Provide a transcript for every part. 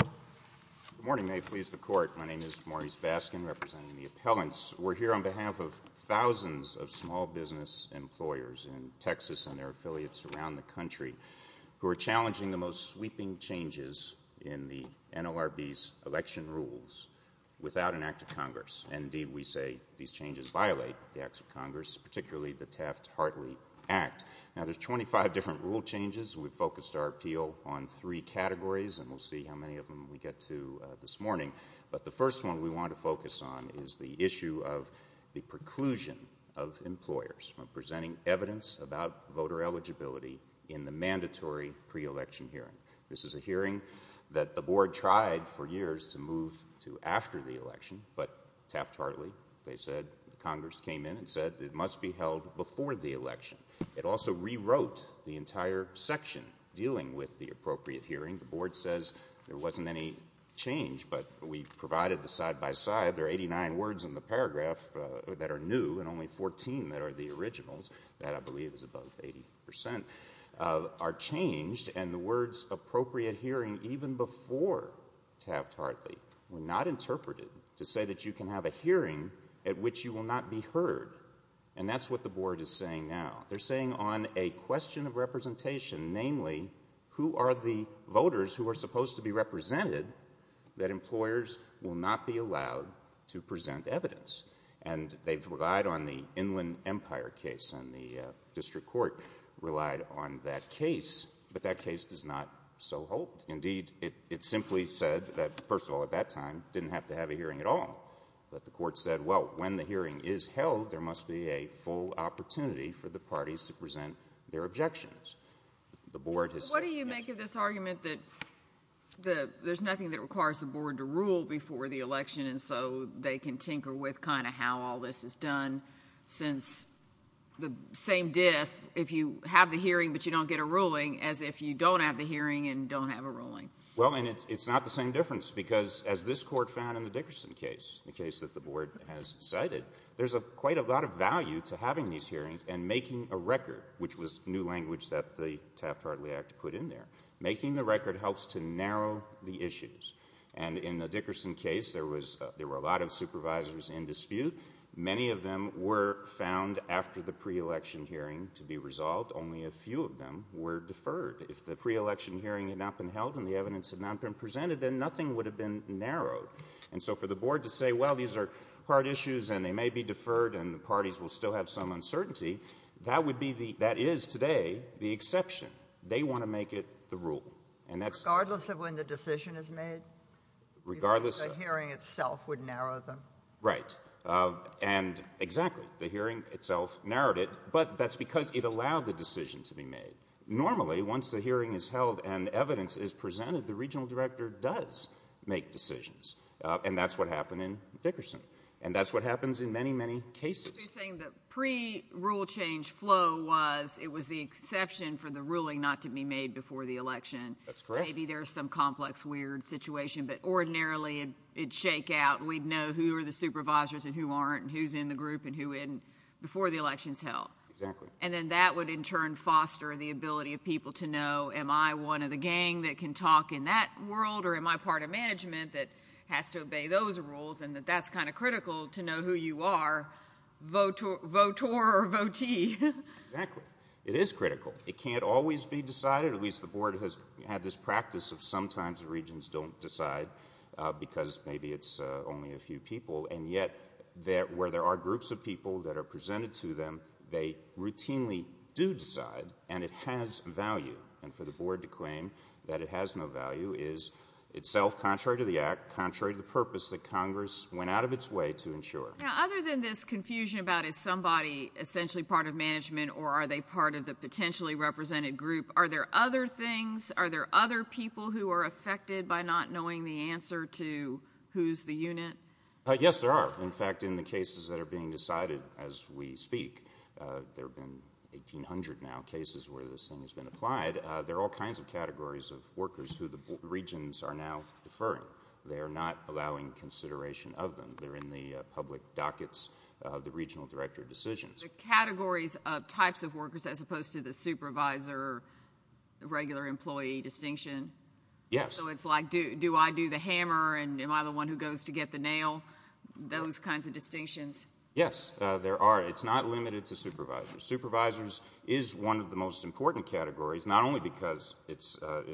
Good morning. May it please the Court. My name is Maurice Baskin, representing the appellants. We're here on behalf of thousands of small business employers in Texas and their affiliates around the country who are challenging the most sweeping changes in the NLRB's election rules without an Act of Congress. Indeed, we say these changes violate the Acts of Congress, particularly the Taft-Hartley Act. Now, there's 25 different rule changes. We've focused our appeal on three categories, and we'll see how many of them we get to this morning. But the first one we want to focus on is the issue of the preclusion of employers from presenting evidence about voter eligibility in the mandatory pre-election hearing. This is a hearing that the board tried for years to move to after the election, but Taft-Hartley, they said, Congress came in and said it must be held before the election. It also rewrote the entire section dealing with the appropriate hearing. The board says there wasn't any change, but we provided the side-by-side. There are 89 words in the paragraph that are new, and only 14 that are the originals. That, I believe, is above 80 percent, are changed, and the words appropriate hearing even before Taft-Hartley were not interpreted to say that you can have a hearing at which you will not be heard, and that's what the board is saying now. They're saying on a question of representation, namely, who are the voters who are supposed to be represented that employers will not be allowed to present evidence, and they've relied on the Inland Empire case, and the district court relied on that case, but that case does not so hold. Indeed, it simply said that, first of all, at that time, didn't have to have a hearing at all, but the court said, well, when the hearing is held, there must be a full opportunity for the parties to present their objections. What do you make of this argument that there's nothing that requires the board to rule before the election, and so they can tinker with kind of how all this is done since the same diff, if you have the hearing but you don't get a ruling as if you don't have the hearing and don't have a ruling? Well, and it's not the same difference because as this court found in the Dickerson case, the case that the board has cited, there's quite a lot of value to having these hearings and making a record, which was new language that the Taft-Hartley Act put in there. Making the record helps to narrow the issues, and in the Dickerson case, there were a lot of supervisors in dispute. Many of them were found after the pre-election hearing to be resolved. Only a few of them were deferred. If the pre-election hearing had not been held and the evidence had not been presented, then nothing would have been narrowed. And so for the board to say, well, these are hard issues and they may be deferred and the parties will still have some uncertainty, that would be the, that is today the exception. They want to make it the rule. Regardless of when the decision is made? Regardless of. The hearing itself would narrow them. Right. And exactly. The hearing itself narrowed it, but that's because it allowed the decision to be made. Normally, once the hearing is held and evidence is presented, the regional director does make decisions. And that's what happened in Dickerson. And that's what happens in many, many cases. You're saying the pre-rule change flow was it was the exception for the ruling not to be made before the election. That's correct. Maybe there's some complex, weird situation, but ordinarily it'd shake out. We'd know who are the supervisors and who aren't and who's in the group and who isn't before the election is held. Exactly. And then that would, in turn, foster the ability of people to know, am I one of the gang that can talk in that world or am I part of management that has to obey those rules and that that's kind of critical to know who you are, voter or votee. Exactly. It is critical. It can't always be decided. At least the board has had this practice of sometimes the regions don't decide because maybe it's only a few people, and yet where there are groups of people that are presented to them, they routinely do decide, and it has value. And for the board to claim that it has no value is itself contrary to the act, contrary to the purpose that Congress went out of its way to ensure. Now, other than this confusion about is somebody essentially part of management or are they part of the potentially represented group, are there other things, are there other people who are affected by not knowing the answer to who's the unit? Yes, there are. In fact, in the cases that are being decided as we speak, there have been 1,800 now cases where this thing has been applied. There are all kinds of categories of workers who the regions are now deferring. They are not allowing consideration of them. There are categories of types of workers as opposed to the supervisor, regular employee distinction. Yes. So it's like do I do the hammer and am I the one who goes to get the nail, those kinds of distinctions. Yes, there are. It's not limited to supervisors. Supervisors is one of the most important categories, not only because it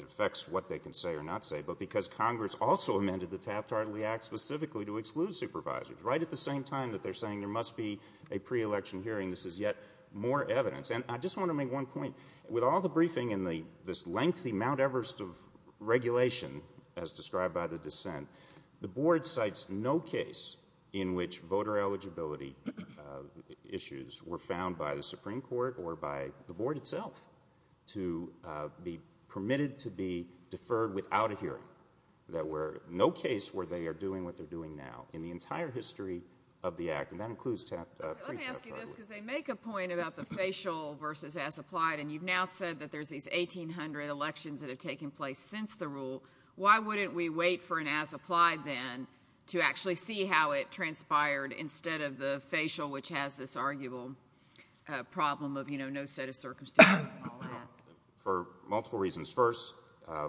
affects what they can say or not say, but because Congress also amended the Taft-Hartley Act specifically to exclude supervisors, right at the same time that they're saying there must be a pre-election hearing. This is yet more evidence. And I just want to make one point. With all the briefing and this lengthy Mount Everest of regulation as described by the dissent, the board cites no case in which voter eligibility issues were found by the Supreme Court or by the board itself to be permitted to be deferred without a hearing, that were no case where they are doing what they're doing now. In the entire history of the Act, and that includes Taft-Hartley. Let me ask you this because they make a point about the facial versus as applied, and you've now said that there's these 1,800 elections that have taken place since the rule. Why wouldn't we wait for an as applied then to actually see how it transpired instead of the facial, which has this arguable problem of, you know, no set of circumstances and all that? For multiple reasons. First,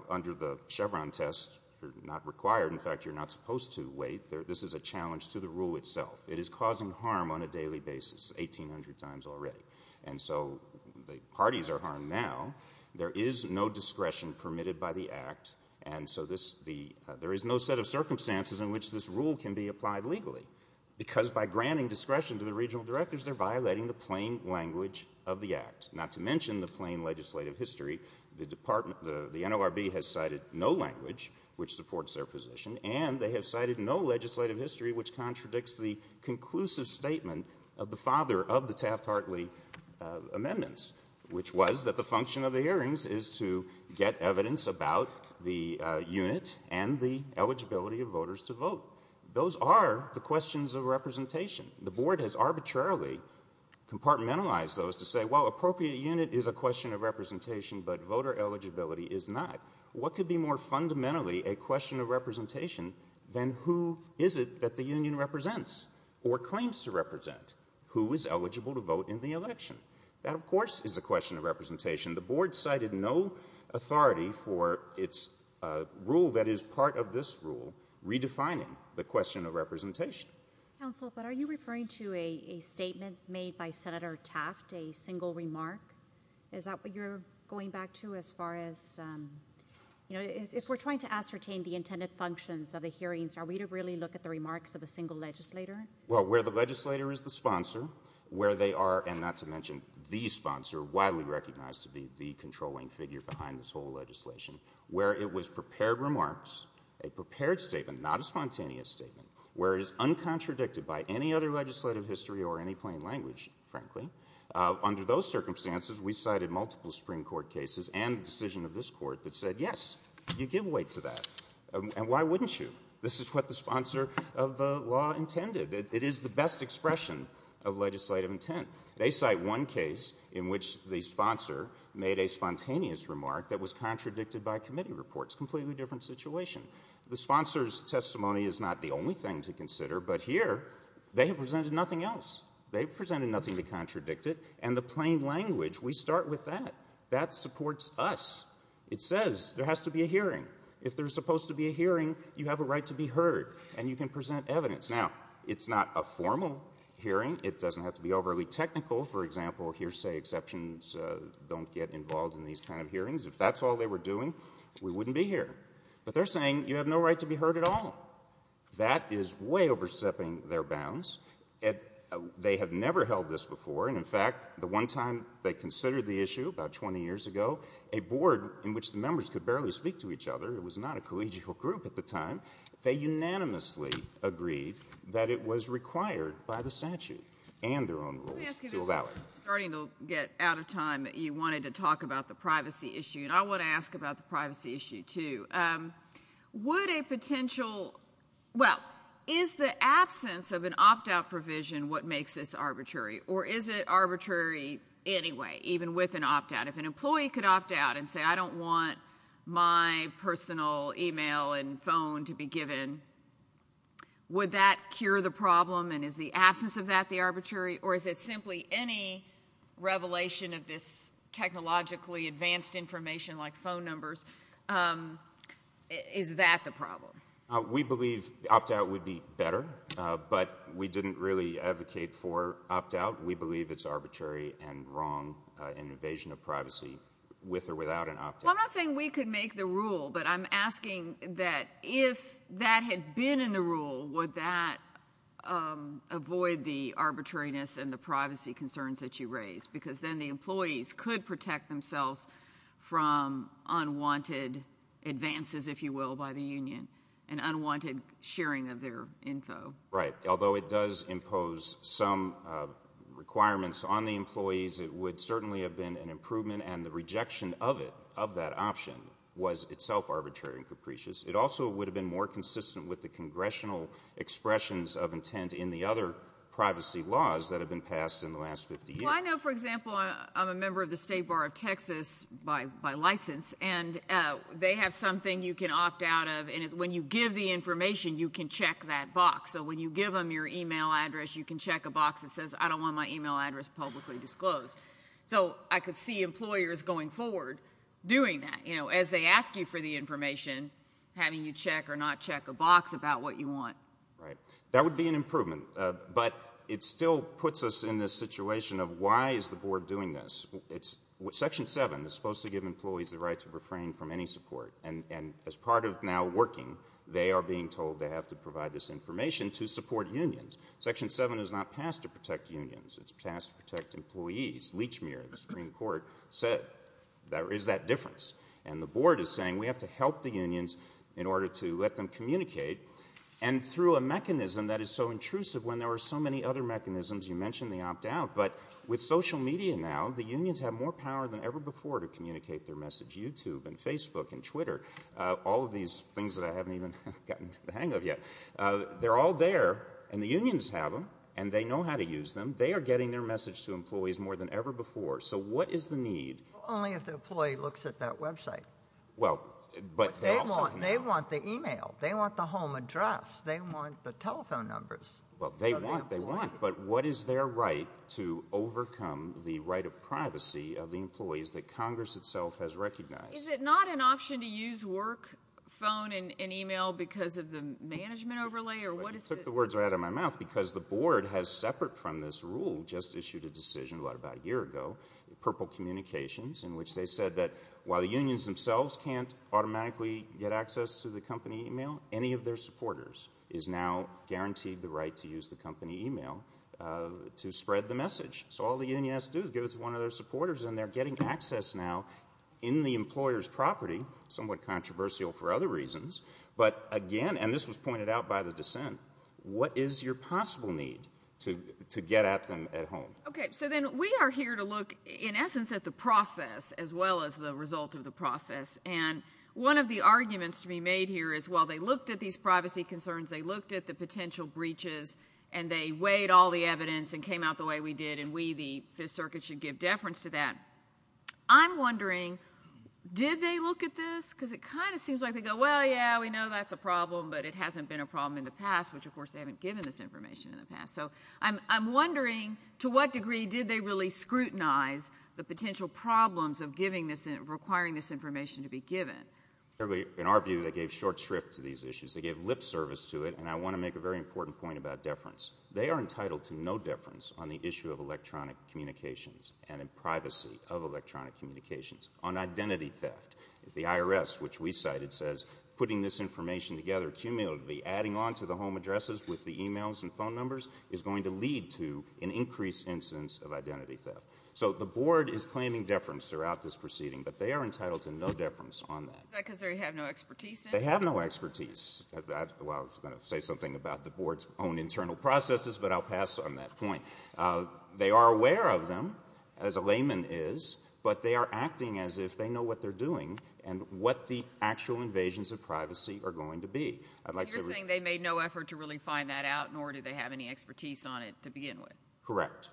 under the Chevron test, you're not required. In fact, you're not supposed to wait. This is a challenge to the rule itself. It is causing harm on a daily basis 1,800 times already, and so the parties are harmed now. There is no discretion permitted by the Act, and so there is no set of circumstances in which this rule can be applied legally because by granting discretion to the regional directors, they're violating the plain language of the Act, not to mention the plain legislative history. The NLRB has cited no language which supports their position, and they have cited no legislative history which contradicts the conclusive statement of the father of the Taft-Hartley amendments, which was that the function of the hearings is to get evidence about the unit and the eligibility of voters to vote. Those are the questions of representation. The board has arbitrarily compartmentalized those to say, well, appropriate unit is a question of representation, but voter eligibility is not. What could be more fundamentally a question of representation than who is it that the union represents or claims to represent who is eligible to vote in the election? That, of course, is a question of representation. The board cited no authority for its rule that is part of this rule redefining the question of representation. Counsel, but are you referring to a statement made by Senator Taft, a single remark? Is that what you're going back to as far as, you know, if we're trying to ascertain the intended functions of the hearings, are we to really look at the remarks of a single legislator? Well, where the legislator is the sponsor, where they are, and not to mention the sponsor, widely recognized to be the controlling figure behind this whole legislation, where it was prepared remarks, a prepared statement, not a spontaneous statement, where it is uncontradicted by any other legislative history or any plain language, frankly. Under those circumstances, we cited multiple Supreme Court cases and a decision of this court that said, yes, you give weight to that, and why wouldn't you? This is what the sponsor of the law intended. It is the best expression of legislative intent. They cite one case in which the sponsor made a spontaneous remark that was contradicted by committee reports, a completely different situation. The sponsor's testimony is not the only thing to consider, but here they have presented nothing else. They presented nothing to contradict it, and the plain language, we start with that. That supports us. It says there has to be a hearing. If there's supposed to be a hearing, you have a right to be heard, and you can present evidence. Now, it's not a formal hearing. It doesn't have to be overly technical. For example, hearsay exceptions don't get involved in these kind of hearings. If that's all they were doing, we wouldn't be here. But they're saying you have no right to be heard at all. That is way overstepping their bounds. They have never held this before, and, in fact, the one time they considered the issue about 20 years ago, a board in which the members could barely speak to each other, it was not a collegial group at the time, they unanimously agreed that it was required by the statute and their own rules to allow it. Let me ask you this. We're starting to get out of time. You wanted to talk about the privacy issue, and I want to ask about the privacy issue too. Would a potential – well, is the absence of an opt-out provision what makes this arbitrary, or is it arbitrary anyway, even with an opt-out? If an employee could opt out and say, I don't want my personal e-mail and phone to be given, would that cure the problem, and is the absence of that the arbitrary, or is it simply any revelation of this technologically advanced information like phone numbers? Is that the problem? We believe opt-out would be better, but we didn't really advocate for opt-out. We believe it's arbitrary and wrong in evasion of privacy with or without an opt-out. Well, I'm not saying we could make the rule, but I'm asking that if that had been in the rule, would that avoid the arbitrariness and the privacy concerns that you raised? Because then the employees could protect themselves from unwanted advances, if you will, by the union, and unwanted sharing of their info. Right. Although it does impose some requirements on the employees, it would certainly have been an improvement, and the rejection of it, of that option, was itself arbitrary and capricious. It also would have been more consistent with the congressional expressions of intent in the other privacy laws that have been passed in the last 50 years. Well, I know, for example, I'm a member of the State Bar of Texas by license, and they have something you can opt out of, and when you give the information, you can check that box. So when you give them your e-mail address, you can check a box that says, I don't want my e-mail address publicly disclosed. So I could see employers going forward doing that. As they ask you for the information, having you check or not check a box about what you want. Right. That would be an improvement. But it still puts us in this situation of why is the board doing this? Section 7 is supposed to give employees the right to refrain from any support, and as part of now working, they are being told they have to provide this information to support unions. Section 7 is not passed to protect unions. It's passed to protect employees. Leachmere in the Supreme Court said there is that difference, and the board is saying we have to help the unions in order to let them communicate, and through a mechanism that is so intrusive when there are so many other mechanisms. You mentioned the opt out, but with social media now, the unions have more power than ever before to communicate their message. YouTube and Facebook and Twitter, all of these things that I haven't even gotten to the hang of yet. They're all there, and the unions have them, and they know how to use them. They are getting their message to employees more than ever before. So what is the need? Only if the employee looks at that website. They want the email. They want the home address. They want the telephone numbers. They want. They want. But what is their right to overcome the right of privacy of the employees that Congress itself has recognized? Is it not an option to use work, phone, and email because of the management overlay? You took the words right out of my mouth because the board has, separate from this rule, just issued a decision about a year ago, purple communications, in which they said that while the unions themselves can't automatically get access to the company email, any of their supporters is now guaranteed the right to use the company email to spread the message. So all the union has to do is give it to one of their supporters, and they're getting access now in the employer's property, somewhat controversial for other reasons. But, again, and this was pointed out by the dissent, what is your possible need to get at them at home? Okay. So then we are here to look, in essence, at the process as well as the result of the process. And one of the arguments to be made here is while they looked at these privacy concerns, they looked at the potential breaches, and they weighed all the evidence and came out the way we did, and we, the Fifth Circuit, should give deference to that. I'm wondering, did they look at this? Because it kind of seems like they go, well, yeah, we know that's a problem, but it hasn't been a problem in the past, which, of course, they haven't given this information in the past. So I'm wondering to what degree did they really scrutinize the potential problems of giving this and requiring this information to be given? In our view, they gave short shrift to these issues. They gave lip service to it, and I want to make a very important point about deference. They are entitled to no deference on the issue of electronic communications and in privacy of electronic communications on identity theft. The IRS, which we cited, says putting this information together cumulatively, adding on to the home addresses with the e-mails and phone numbers, is going to lead to an increased incidence of identity theft. So the Board is claiming deference throughout this proceeding, but they are entitled to no deference on that. Is that because they have no expertise in it? They have no expertise. I was going to say something about the Board's own internal processes, but I'll pass on that point. They are aware of them, as a layman is, but they are acting as if they know what they're doing and what the actual invasions of privacy are going to be. You're saying they made no effort to really find that out, nor did they have any expertise on it to begin with? Correct.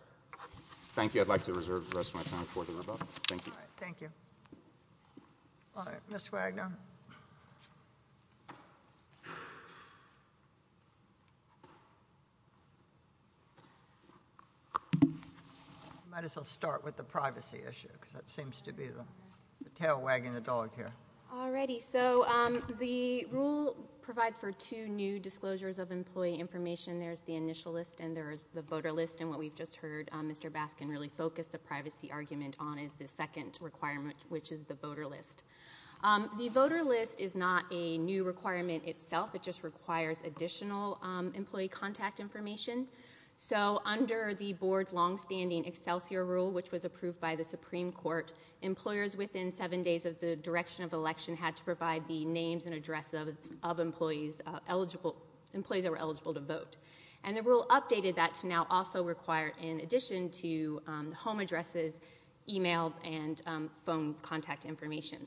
Thank you. I'd like to reserve the rest of my time for the rebuttal. Thank you. All right, thank you. All right, Ms. Wagner. Might as well start with the privacy issue, because that seems to be the tail wagging the dog here. All righty. So the rule provides for two new disclosures of employee information. There's the initial list and there's the voter list. And what we've just heard Mr. Baskin really focus the privacy argument on is the second requirement, which is the voter list. The voter list is not a new requirement itself. It just requires additional employee contact information. So under the board's longstanding Excelsior rule, which was approved by the Supreme Court, employers within seven days of the direction of election had to provide the names and addresses of employees that were eligible to vote. And the rule updated that to now also require, in addition to home addresses, e-mail and phone contact information.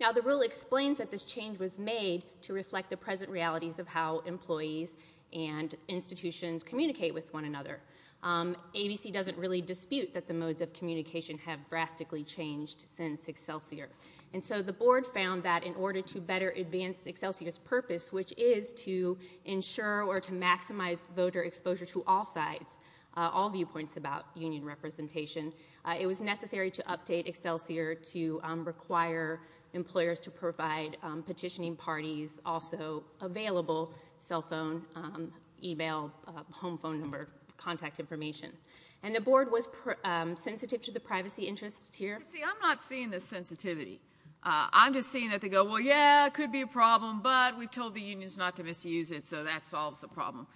Now the rule explains that this change was made to reflect the present realities of how employees and institutions communicate with one another. ABC doesn't really dispute that the modes of communication have drastically changed since Excelsior. And so the board found that in order to better advance Excelsior's purpose, which is to ensure or to maximize voter exposure to all sides, all viewpoints about union representation, it was necessary to update Excelsior to require employers to provide petitioning parties also available cell phone, e-mail, home phone number, contact information. And the board was sensitive to the privacy interests here. See, I'm not seeing this sensitivity. I'm just seeing that they go, well, yeah, it could be a problem, but we've told the unions not to misuse it, so that solves the problem.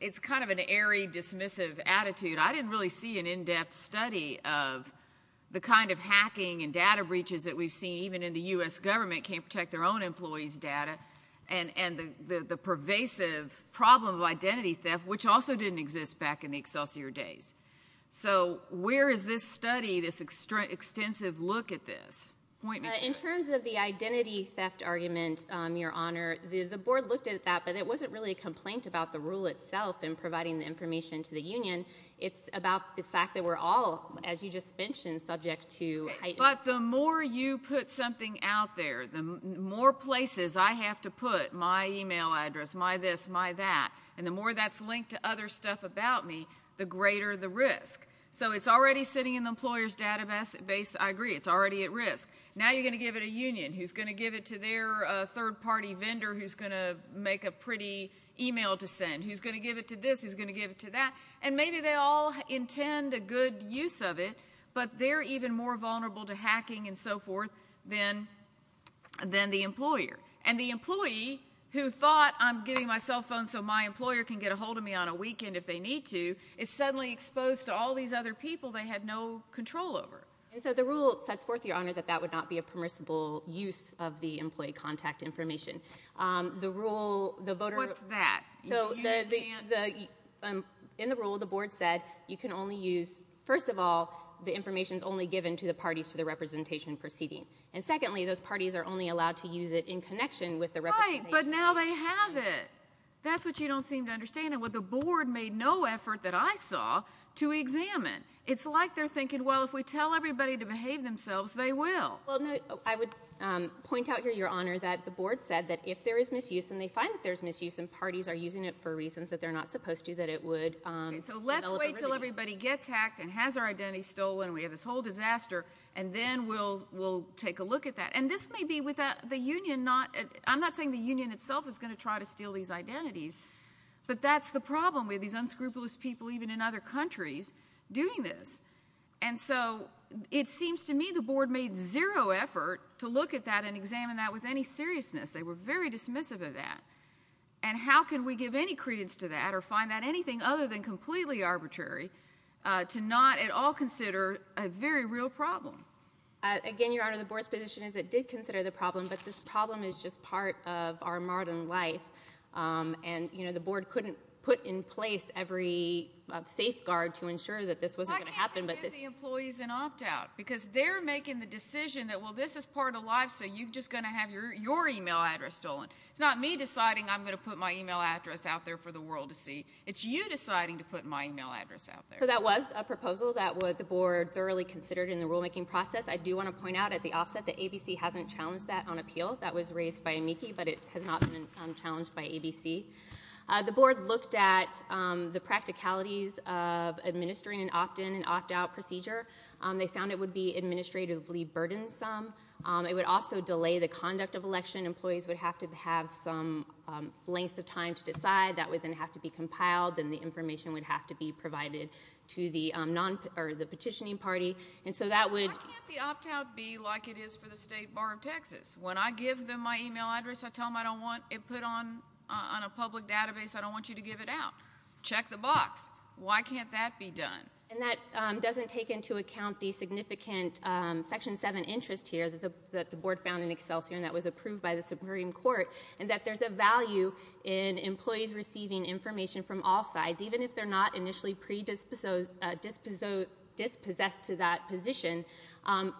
It's kind of an airy, dismissive attitude. I didn't really see an in-depth study of the kind of hacking and data breaches that we've seen even in the U.S. government can't protect their own employees' data and the pervasive problem of identity theft, which also didn't exist back in the Excelsior days. So where is this study, this extensive look at this? Point me to it. In terms of the identity theft argument, Your Honor, the board looked at that, but it wasn't really a complaint about the rule itself in providing the information to the union. It's about the fact that we're all, as you just mentioned, subject to heightened- But the more you put something out there, the more places I have to put my e-mail address, my this, my that, and the more that's linked to other stuff about me, the greater the risk. So it's already sitting in the employer's database. I agree, it's already at risk. Now you're going to give it a union who's going to give it to their third-party vendor who's going to make a pretty e-mail to send, who's going to give it to this, who's going to give it to that. And maybe they all intend a good use of it, but they're even more vulnerable to hacking and so forth than the employer. And the employee, who thought, I'm giving my cell phone so my employer can get a hold of me on a weekend if they need to, is suddenly exposed to all these other people they had no control over. And so the rule sets forth, Your Honor, that that would not be a permissible use of the employee contact information. The rule, the voter- What's that? So in the rule, the board said you can only use, first of all, the information's only given to the parties to the representation proceeding. And secondly, those parties are only allowed to use it in connection with the representation- Right, but now they have it. That's what you don't seem to understand, and what the board made no effort that I saw to examine. It's like they're thinking, well, if we tell everybody to behave themselves, they will. Well, no, I would point out here, Your Honor, that the board said that if there is misuse, and they find that there's misuse, and parties are using it for reasons that they're not supposed to, that it would- Okay, so let's wait until everybody gets hacked and has their identities stolen, and we have this whole disaster, and then we'll take a look at that. And this may be with the union not- I'm not saying the union itself is going to try to steal these identities, but that's the problem. We have these unscrupulous people even in other countries doing this. And so it seems to me the board made zero effort to look at that and examine that with any seriousness. They were very dismissive of that. And how can we give any credence to that or find that anything other than completely arbitrary to not at all consider a very real problem? Again, Your Honor, the board's position is it did consider the problem, but this problem is just part of our modern life. And the board couldn't put in place every safeguard to ensure that this wasn't going to happen. Why can't they give the employees an opt-out? Because they're making the decision that, well, this is part of life, so you're just going to have your e-mail address stolen. It's not me deciding I'm going to put my e-mail address out there for the world to see. It's you deciding to put my e-mail address out there. So that was a proposal that the board thoroughly considered in the rulemaking process. I do want to point out at the offset that ABC hasn't challenged that on appeal. That was raised by Miki, but it has not been challenged by ABC. The board looked at the practicalities of administering an opt-in and opt-out procedure. They found it would be administratively burdensome. It would also delay the conduct of election. Employees would have to have some length of time to decide. That would then have to be compiled, and the information would have to be provided to the petitioning party. And so that would – Why can't the opt-out be like it is for the State Bar of Texas? When I give them my e-mail address, I tell them I don't want it put on a public database. I don't want you to give it out. Check the box. Why can't that be done? And that doesn't take into account the significant Section 7 interest here that the board found in Excelsior and that was approved by the Supreme Court, even if they're not initially predisposed – dispossessed to that position,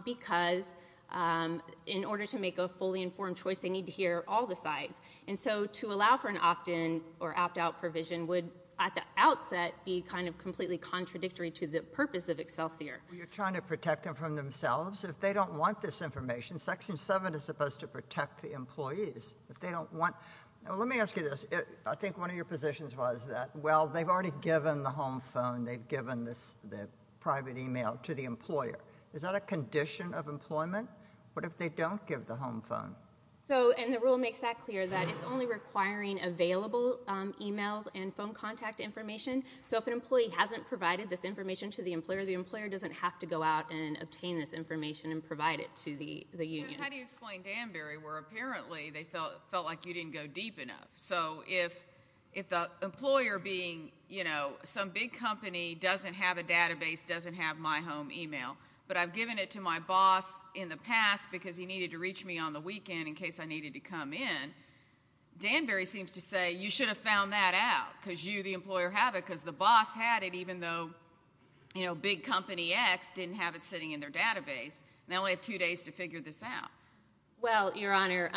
because in order to make a fully informed choice, they need to hear all the sides. And so to allow for an opt-in or opt-out provision would, at the outset, be kind of completely contradictory to the purpose of Excelsior. You're trying to protect them from themselves? If they don't want this information, Section 7 is supposed to protect the employees. If they don't want – Let me ask you this. I think one of your positions was that, well, they've already given the home phone, they've given the private e-mail to the employer. Is that a condition of employment? What if they don't give the home phone? And the rule makes that clear, that it's only requiring available e-mails and phone contact information. So if an employee hasn't provided this information to the employer, the employer doesn't have to go out and obtain this information and provide it to the union. How do you explain Danbury, where apparently they felt like you didn't go deep enough? So if the employer being some big company doesn't have a database, doesn't have my home e-mail, but I've given it to my boss in the past because he needed to reach me on the weekend in case I needed to come in, Danbury seems to say you should have found that out because you, the employer, have it, because the boss had it even though big company X didn't have it sitting in their database, and they only have two days to figure this out. Well, Your Honor,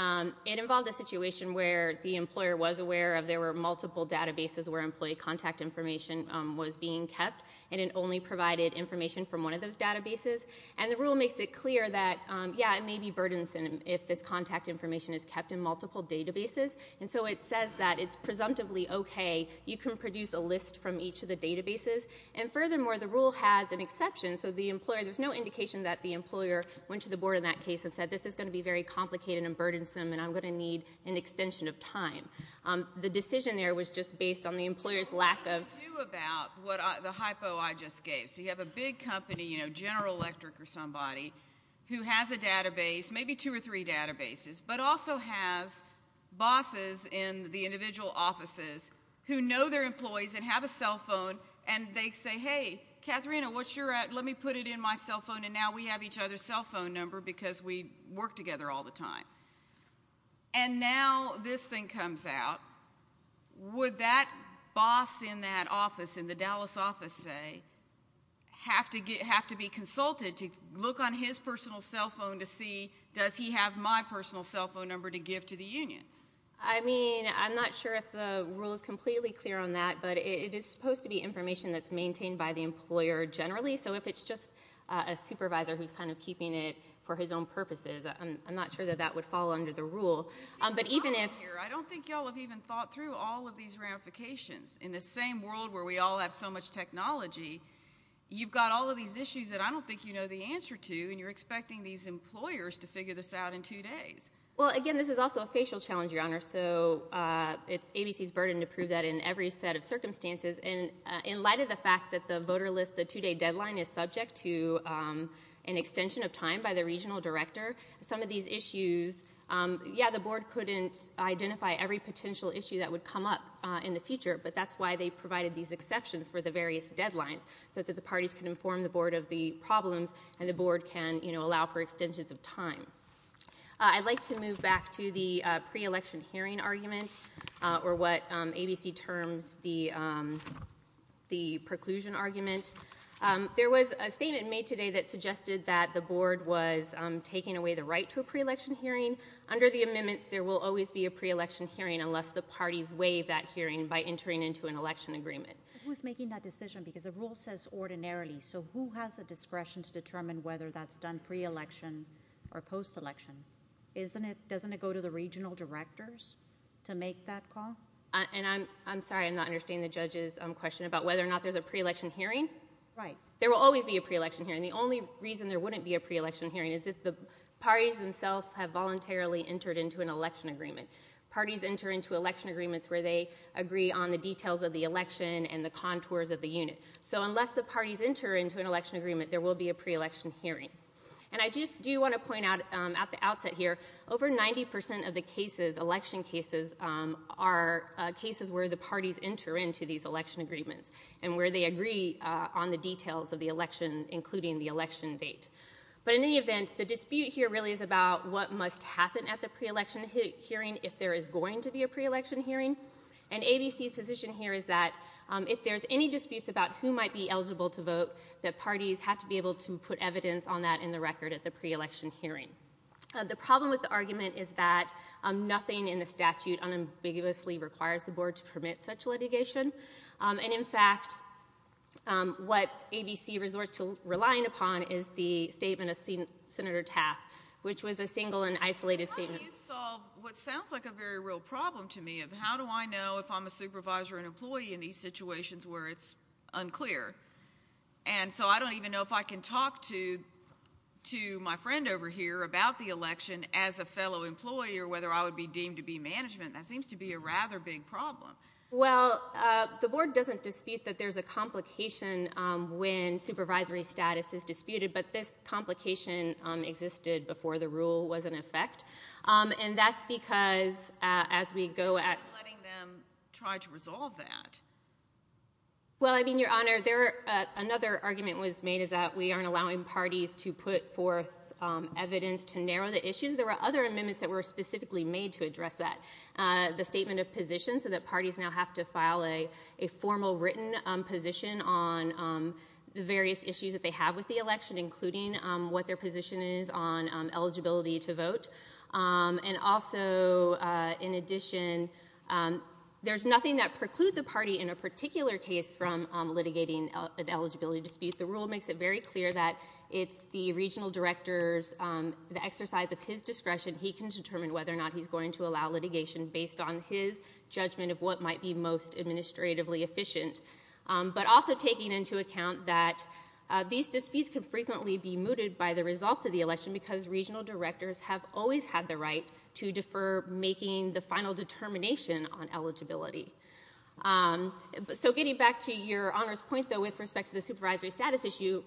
it involved a situation where the employer was aware of there were multiple databases where employee contact information was being kept, and it only provided information from one of those databases. And the rule makes it clear that, yeah, it may be burdensome if this contact information is kept in multiple databases, and so it says that it's presumptively okay you can produce a list from each of the databases. And furthermore, the rule has an exception, so the employer, there's no indication that the employer went to the board in that case and said this is going to be very complicated and burdensome, and I'm going to need an extension of time. The decision there was just based on the employer's lack of. What do you do about the hypo I just gave? So you have a big company, you know, General Electric or somebody, who has a database, maybe two or three databases, but also has bosses in the individual offices who know their employees and have a cell phone and they say, hey, Katharina, what's your address? Let me put it in my cell phone, and now we have each other's cell phone number because we work together all the time. And now this thing comes out. Would that boss in that office, in the Dallas office, say, have to be consulted to look on his personal cell phone to see, does he have my personal cell phone number to give to the union? I mean, I'm not sure if the rule is completely clear on that, but it is supposed to be information that's maintained by the employer generally. So if it's just a supervisor who's kind of keeping it for his own purposes, I'm not sure that that would fall under the rule. I don't think you all have even thought through all of these ramifications. In the same world where we all have so much technology, you've got all of these issues that I don't think you know the answer to, and you're expecting these employers to figure this out in two days. Well, again, this is also a facial challenge, Your Honor, so it's ABC's burden to prove that in every set of circumstances. And in light of the fact that the voter list, the two-day deadline, is subject to an extension of time by the regional director, some of these issues, yeah, the board couldn't identify every potential issue that would come up in the future, but that's why they provided these exceptions for the various deadlines, so that the parties can inform the board of the problems and the board can allow for extensions of time. I'd like to move back to the pre-election hearing argument, or what ABC terms the preclusion argument. There was a statement made today that suggested that the board was taking away the right to a pre-election hearing. Under the amendments, there will always be a pre-election hearing unless the parties waive that hearing by entering into an election agreement. Who's making that decision? Because the rule says ordinarily, so who has the discretion to determine whether that's done pre-election or post-election? Doesn't it go to the regional directors to make that call? And I'm sorry, I'm not understanding the judge's question about whether or not there's a pre-election hearing. Right. There will always be a pre-election hearing. The only reason there wouldn't be a pre-election hearing is if the parties themselves have voluntarily entered into an election agreement. Parties enter into election agreements where they agree on the details of the election and the contours of the unit. So unless the parties enter into an election agreement, there will be a pre-election hearing. And I just do want to point out at the outset here, over 90% of the cases, election cases, are cases where the parties enter into these election agreements and where they agree on the details of the election, including the election date. But in any event, the dispute here really is about what must happen at the pre-election hearing if there is going to be a pre-election hearing. And ABC's position here is that if there's any disputes about who might be eligible to vote, that parties have to be able to put evidence on that in the record at the pre-election hearing. The problem with the argument is that nothing in the statute unambiguously requires the board to permit such litigation. And in fact, what ABC resorts to relying upon is the statement of Senator Taft, which was a single and isolated statement. You solve what sounds like a very real problem to me of how do I know if I'm a supervisor and employee in these situations where it's unclear. And so I don't even know if I can talk to my friend over here about the election as a fellow employee or whether I would be deemed to be management. That seems to be a rather big problem. Well, the board doesn't dispute that there's a complication when supervisory status is disputed, but this complication existed before the rule was in effect. And that's because as we go at- Why are you letting them try to resolve that? Well, I mean, Your Honor, another argument was made is that we aren't allowing parties to put forth evidence to narrow the issues. There were other amendments that were specifically made to address that. The statement of position, so that parties now have to file a formal written position on the various issues that they have with the election, including what their position is on eligibility to vote. And also, in addition, there's nothing that precludes a party in a particular case from litigating an eligibility dispute. The rule makes it very clear that it's the regional director's, the exercise of his discretion, he can determine whether or not he's going to allow litigation based on his judgment of what might be most administratively efficient. But also taking into account that these disputes can frequently be mooted by the results of the election because regional directors have always had the right to defer making the final determination on eligibility. So getting back to Your Honor's point, though, with respect to the supervisory status issue,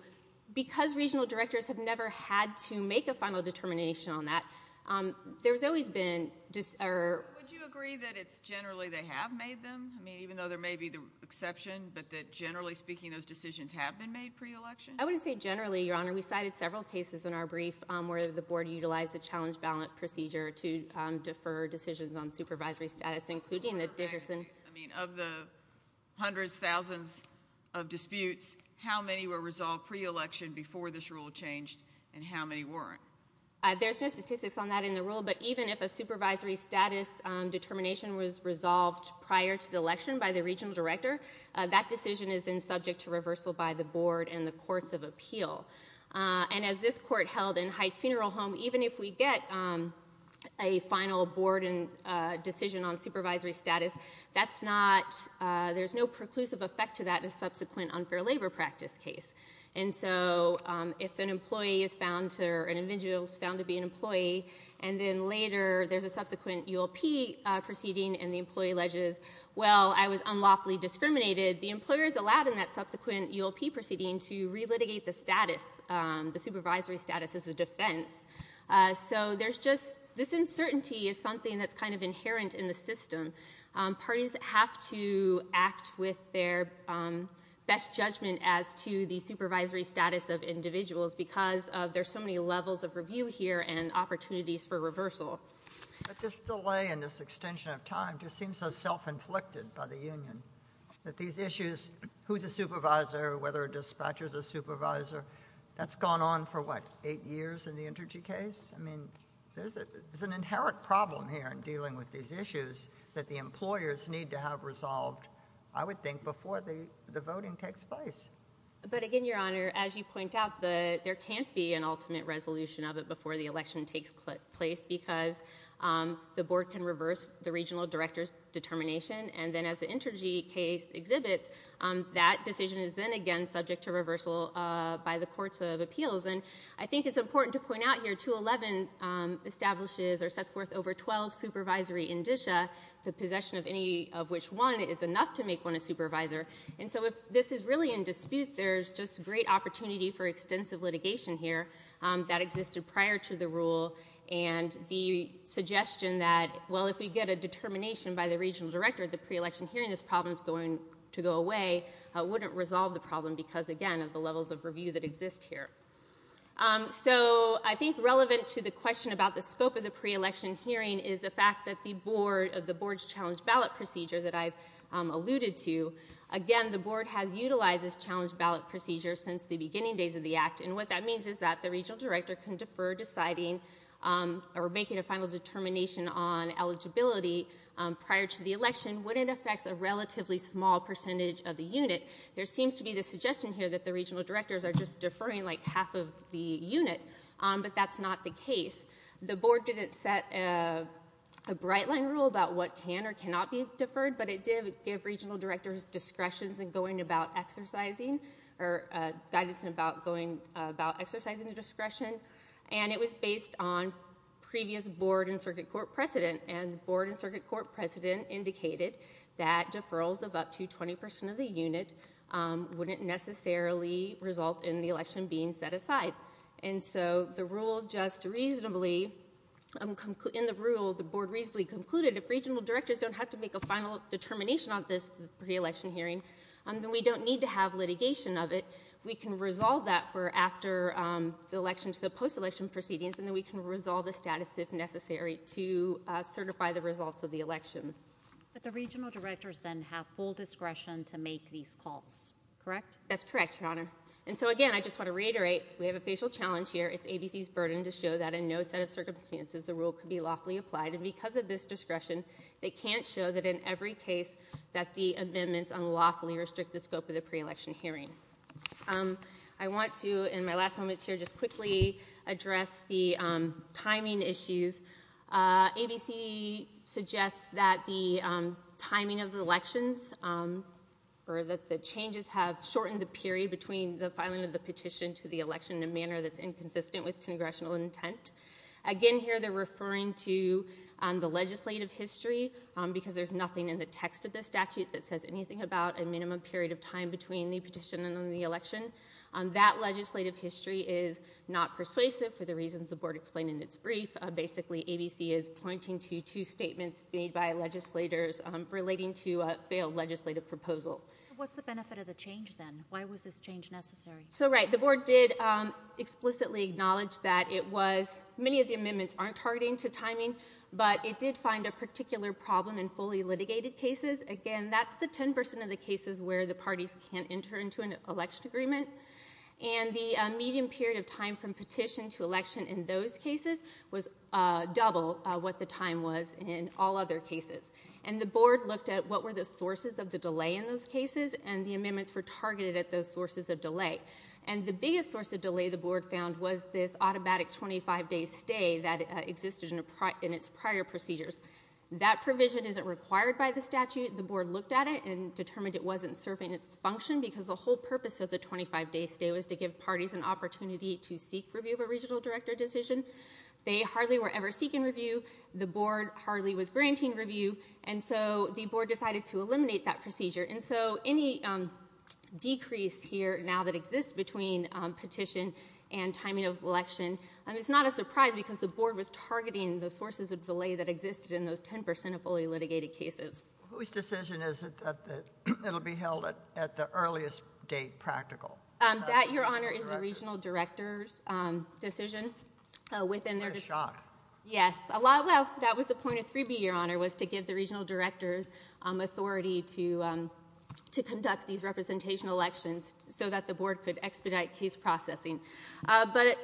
because regional directors have never had to make a final determination on that, there's always been- Would you agree that it's generally they have made them? I mean, even though there may be the exception, but that generally speaking, those decisions have been made pre-election? I wouldn't say generally, Your Honor. We cited several cases in our brief where the board utilized a challenge ballot procedure to defer decisions on supervisory status, including that Dickerson- I mean, of the hundreds, thousands of disputes, how many were resolved pre-election before this rule changed, and how many weren't? There's no statistics on that in the rule, but even if a supervisory status determination was resolved prior to the election by the regional director, that decision is then subject to reversal by the board and the courts of appeal. And as this court held in Heights Funeral Home, even if we get a final board decision on supervisory status, that's not- there's no preclusive effect to that in a subsequent unfair labor practice case. And so if an employee is found to- or an individual is found to be an employee, and then later there's a subsequent ULP proceeding and the employee alleges, well, I was unlawfully discriminated, the employer is allowed in that subsequent ULP proceeding to relitigate the status, the supervisory status as a defense. So there's just- this uncertainty is something that's kind of inherent in the system. Parties have to act with their best judgment as to the supervisory status of individuals because there's so many levels of review here and opportunities for reversal. But this delay and this extension of time just seems so self-inflicted by the union. That these issues, who's a supervisor, whether a dispatcher's a supervisor, that's gone on for, what, eight years in the energy case? I mean, there's an inherent problem here in dealing with these issues that the employers need to have resolved, I would think, before the voting takes place. But again, Your Honor, as you point out, there can't be an ultimate resolution of it before the election takes place because the board can reverse the regional director's determination. And then as the energy case exhibits, that decision is then again subject to reversal by the courts of appeals. And I think it's important to point out here, 211 establishes or sets forth over 12 supervisory indicia, the possession of any of which one is enough to make one a supervisor. And so if this is really in dispute, there's just great opportunity for extensive litigation here that existed prior to the rule and the suggestion that, well, if we get a determination by the regional director at the pre-election hearing, this problem's going to go away, wouldn't resolve the problem because, again, of the levels of review that exist here. So I think relevant to the question about the scope of the pre-election hearing is the fact that the board, the board's challenge ballot procedure that I've alluded to, again, the board has utilized this challenge ballot procedure since the beginning days of the act. And what that means is that the regional director can defer deciding or making a final determination on eligibility prior to the election when it affects a relatively small percentage of the unit. There seems to be the suggestion here that the regional directors are just deferring like half of the unit, but that's not the case. The board didn't set a bright line rule about what can or cannot be deferred, but it did give regional directors discretion in going about exercising or guidance about going about exercising their discretion. And it was based on previous board and circuit court precedent. And board and circuit court precedent indicated that deferrals of up to 20 percent of the unit wouldn't necessarily result in the election being set aside. And so the rule just reasonably, in the rule, the board reasonably concluded if regional directors don't have to make a final determination on this pre-election hearing, then we don't need to have litigation of it. So we can resolve that for after the election to the post-election proceedings, and then we can resolve the status if necessary to certify the results of the election. But the regional directors then have full discretion to make these calls, correct? That's correct, Your Honor. And so, again, I just want to reiterate, we have a facial challenge here. It's ABC's burden to show that in no set of circumstances the rule could be lawfully applied. And because of this discretion, they can't show that in every case that the amendments unlawfully restrict the scope of the pre-election hearing. I want to, in my last moments here, just quickly address the timing issues. ABC suggests that the timing of the elections or that the changes have shortened the period between the filing of the petition to the election in a manner that's inconsistent with congressional intent. Again, here they're referring to the legislative history, because there's nothing in the text of the statute that says anything about a minimum period of time between the petition and the election. That legislative history is not persuasive for the reasons the Board explained in its brief. Basically, ABC is pointing to two statements made by legislators relating to a failed legislative proposal. What's the benefit of the change, then? Why was this change necessary? So, right, the Board did explicitly acknowledge that many of the amendments aren't targeting to timing, but it did find a particular problem in fully litigated cases. Again, that's the 10% of the cases where the parties can't enter into an election agreement. And the median period of time from petition to election in those cases was double what the time was in all other cases. And the Board looked at what were the sources of the delay in those cases, and the amendments were targeted at those sources of delay. And the biggest source of delay the Board found was this automatic 25-day stay that existed in its prior procedures. That provision isn't required by the statute. The Board looked at it and determined it wasn't serving its function, because the whole purpose of the 25-day stay was to give parties an opportunity to seek review of a regional director decision. They hardly were ever seeking review. The Board hardly was granting review. And so the Board decided to eliminate that procedure. And so any decrease here now that exists between petition and timing of election, it's not a surprise because the Board was targeting the sources of delay that existed in those 10% of fully litigated cases. Whose decision is it that it will be held at the earliest date practical? That, Your Honor, is the regional director's decision. A lot of shock. Yes. Well, that was the point of 3B, Your Honor, was to give the regional director's authority to conduct these representation elections so that the Board could expedite case processing. But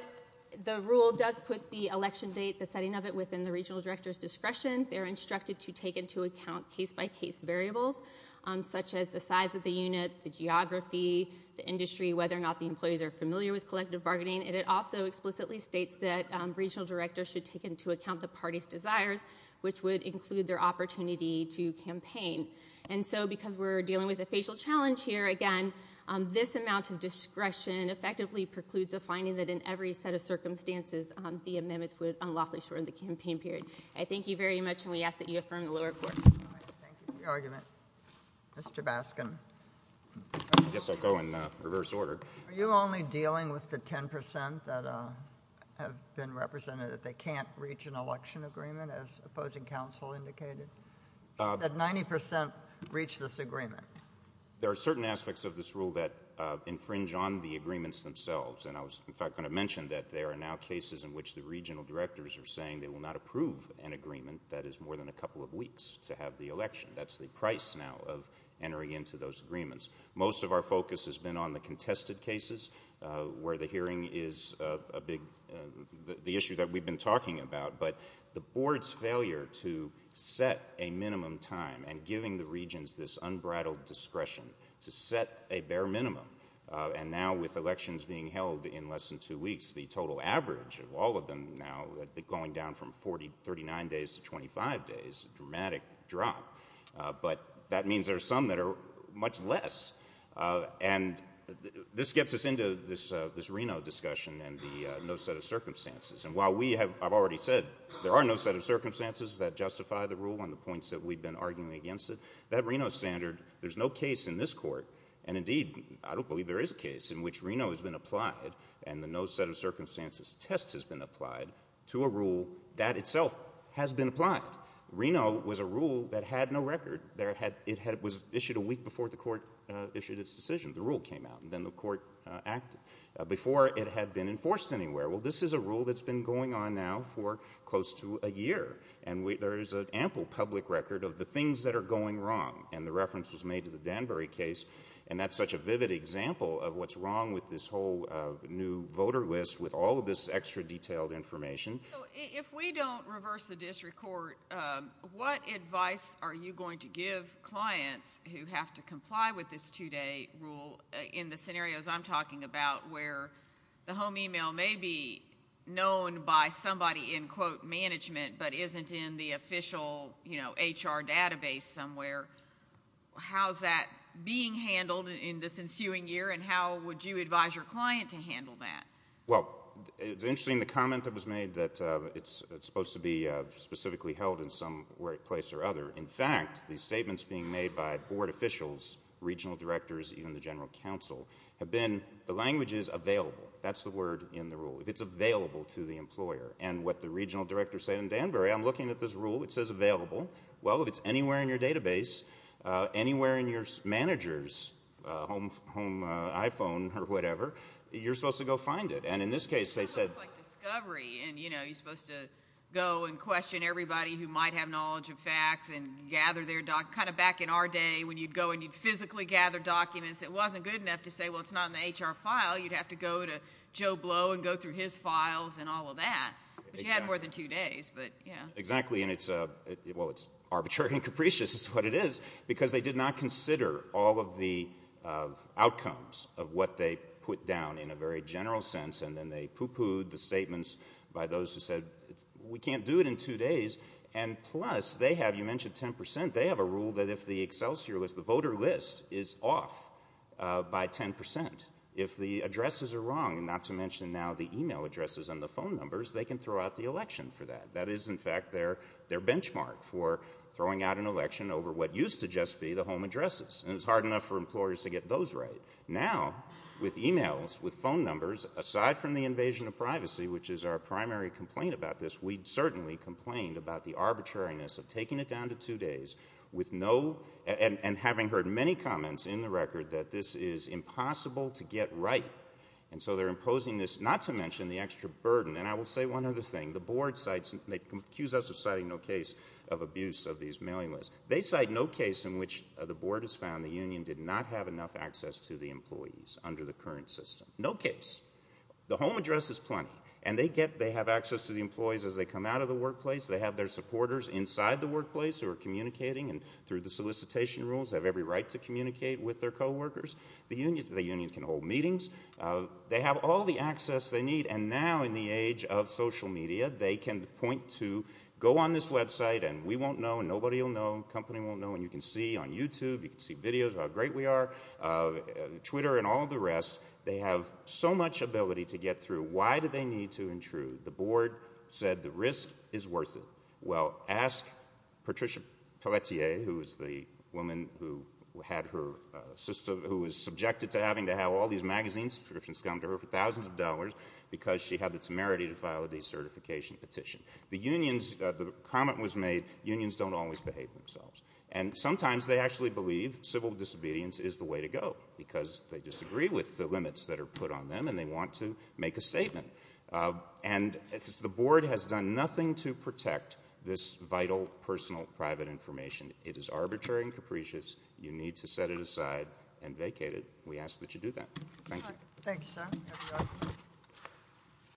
the rule does put the election date, the setting of it, within the regional director's discretion. They're instructed to take into account case-by-case variables, such as the size of the unit, the geography, the industry, whether or not the employees are familiar with collective bargaining. And it also explicitly states that regional directors should take into account the party's desires, which would include their opportunity to campaign. And so because we're dealing with a facial challenge here, again, this amount of discretion effectively precludes the finding that in every set of circumstances, the amendments would unlawfully shorten the campaign period. I thank you very much, and we ask that you affirm the lower court. Thank you for your argument. Mr. Baskin. I guess I'll go in reverse order. Are you only dealing with the 10% that have been represented, that they can't reach an election agreement, as opposing counsel indicated? He said 90% reached this agreement. There are certain aspects of this rule that infringe on the agreements themselves. And I was, in fact, going to mention that there are now cases in which the regional directors are saying they will not approve an agreement that is more than a couple of weeks to have the election. That's the price now of entering into those agreements. Most of our focus has been on the contested cases, where the hearing is a big issue that we've been talking about. But the board's failure to set a minimum time and giving the regions this unbridled discretion to set a bare minimum, and now with elections being held in less than two weeks, the total average of all of them now going down from 39 days to 25 days, a dramatic drop. But that means there are some that are much less. And this gets us into this Reno discussion and the no set of circumstances. And while we have already said there are no set of circumstances that justify the rule on the points that we've been arguing against it, that Reno standard, there's no case in this court, and indeed I don't believe there is a case in which Reno has been applied and the no set of circumstances test has been applied to a rule that itself has been applied. But Reno was a rule that had no record. It was issued a week before the court issued its decision. The rule came out, and then the court acted. Before it had been enforced anywhere. Well, this is a rule that's been going on now for close to a year, and there is an ample public record of the things that are going wrong. And the reference was made to the Danbury case, and that's such a vivid example of what's wrong with this whole new voter list with all of this extra detailed information. So if we don't reverse the district court, what advice are you going to give clients who have to comply with this two-day rule in the scenarios I'm talking about where the home email may be known by somebody in, quote, management but isn't in the official, you know, HR database somewhere? How's that being handled in this ensuing year, and how would you advise your client to handle that? Well, it's interesting the comment that was made that it's supposed to be specifically held in some place or other. In fact, the statements being made by board officials, regional directors, even the general counsel have been the language is available. That's the word in the rule. If it's available to the employer, and what the regional director said in Danbury, I'm looking at this rule, it says available. Well, if it's anywhere in your database, anywhere in your manager's home iPhone or whatever, you're supposed to go find it. And in this case they said... It looks like discovery, and, you know, you're supposed to go and question everybody who might have knowledge of facts and gather their documents. Kind of back in our day when you'd go and you'd physically gather documents, it wasn't good enough to say, well, it's not in the HR file. You'd have to go to Joe Blow and go through his files and all of that. But you had more than two days, but, you know. Exactly, and it's, well, it's arbitrary and capricious is what it is because they did not consider all of the outcomes of what they put down in a very general sense, and then they poo-pooed the statements by those who said, we can't do it in two days. And plus, they have, you mentioned 10%. They have a rule that if the Excelsior list, the voter list, is off by 10%, if the addresses are wrong, not to mention now the e-mail addresses and the phone numbers, they can throw out the election for that. That is, in fact, their benchmark for throwing out an election over what used to just be the home addresses, and it's hard enough for employers to get those right. Now, with e-mails, with phone numbers, aside from the invasion of privacy, which is our primary complaint about this, we certainly complained about the arbitrariness of taking it down to two days with no, and having heard many comments in the record that this is impossible to get right. And so they're imposing this, not to mention the extra burden. And I will say one other thing. The board cites, accuses us of citing no case of abuse of these mailing lists. They cite no case in which the board has found the union did not have enough access to the employees under the current system. No case. The home address is plenty, and they have access to the employees as they come out of the workplace. They have their supporters inside the workplace who are communicating, and through the solicitation rules, have every right to communicate with their coworkers. The union can hold meetings. They have all the access they need. And now, in the age of social media, they can point to, go on this website, and we won't know, and nobody will know, the company won't know, and you can see on YouTube, you can see videos of how great we are, Twitter, and all the rest. They have so much ability to get through. Why do they need to intrude? The board said the risk is worth it. Well, ask Patricia Pelletier, who is the woman who was subjected to having to have all these magazine subscriptions come to her for thousands of dollars because she had the temerity to file a decertification petition. The unions, the comment was made, unions don't always behave themselves. And sometimes they actually believe civil disobedience is the way to go because they disagree with the limits that are put on them, and they want to make a statement. And the board has done nothing to protect this vital personal private information. It is arbitrary and capricious. You need to set it aside and vacate it. We ask that you do that. Thank you. Thank you, sir.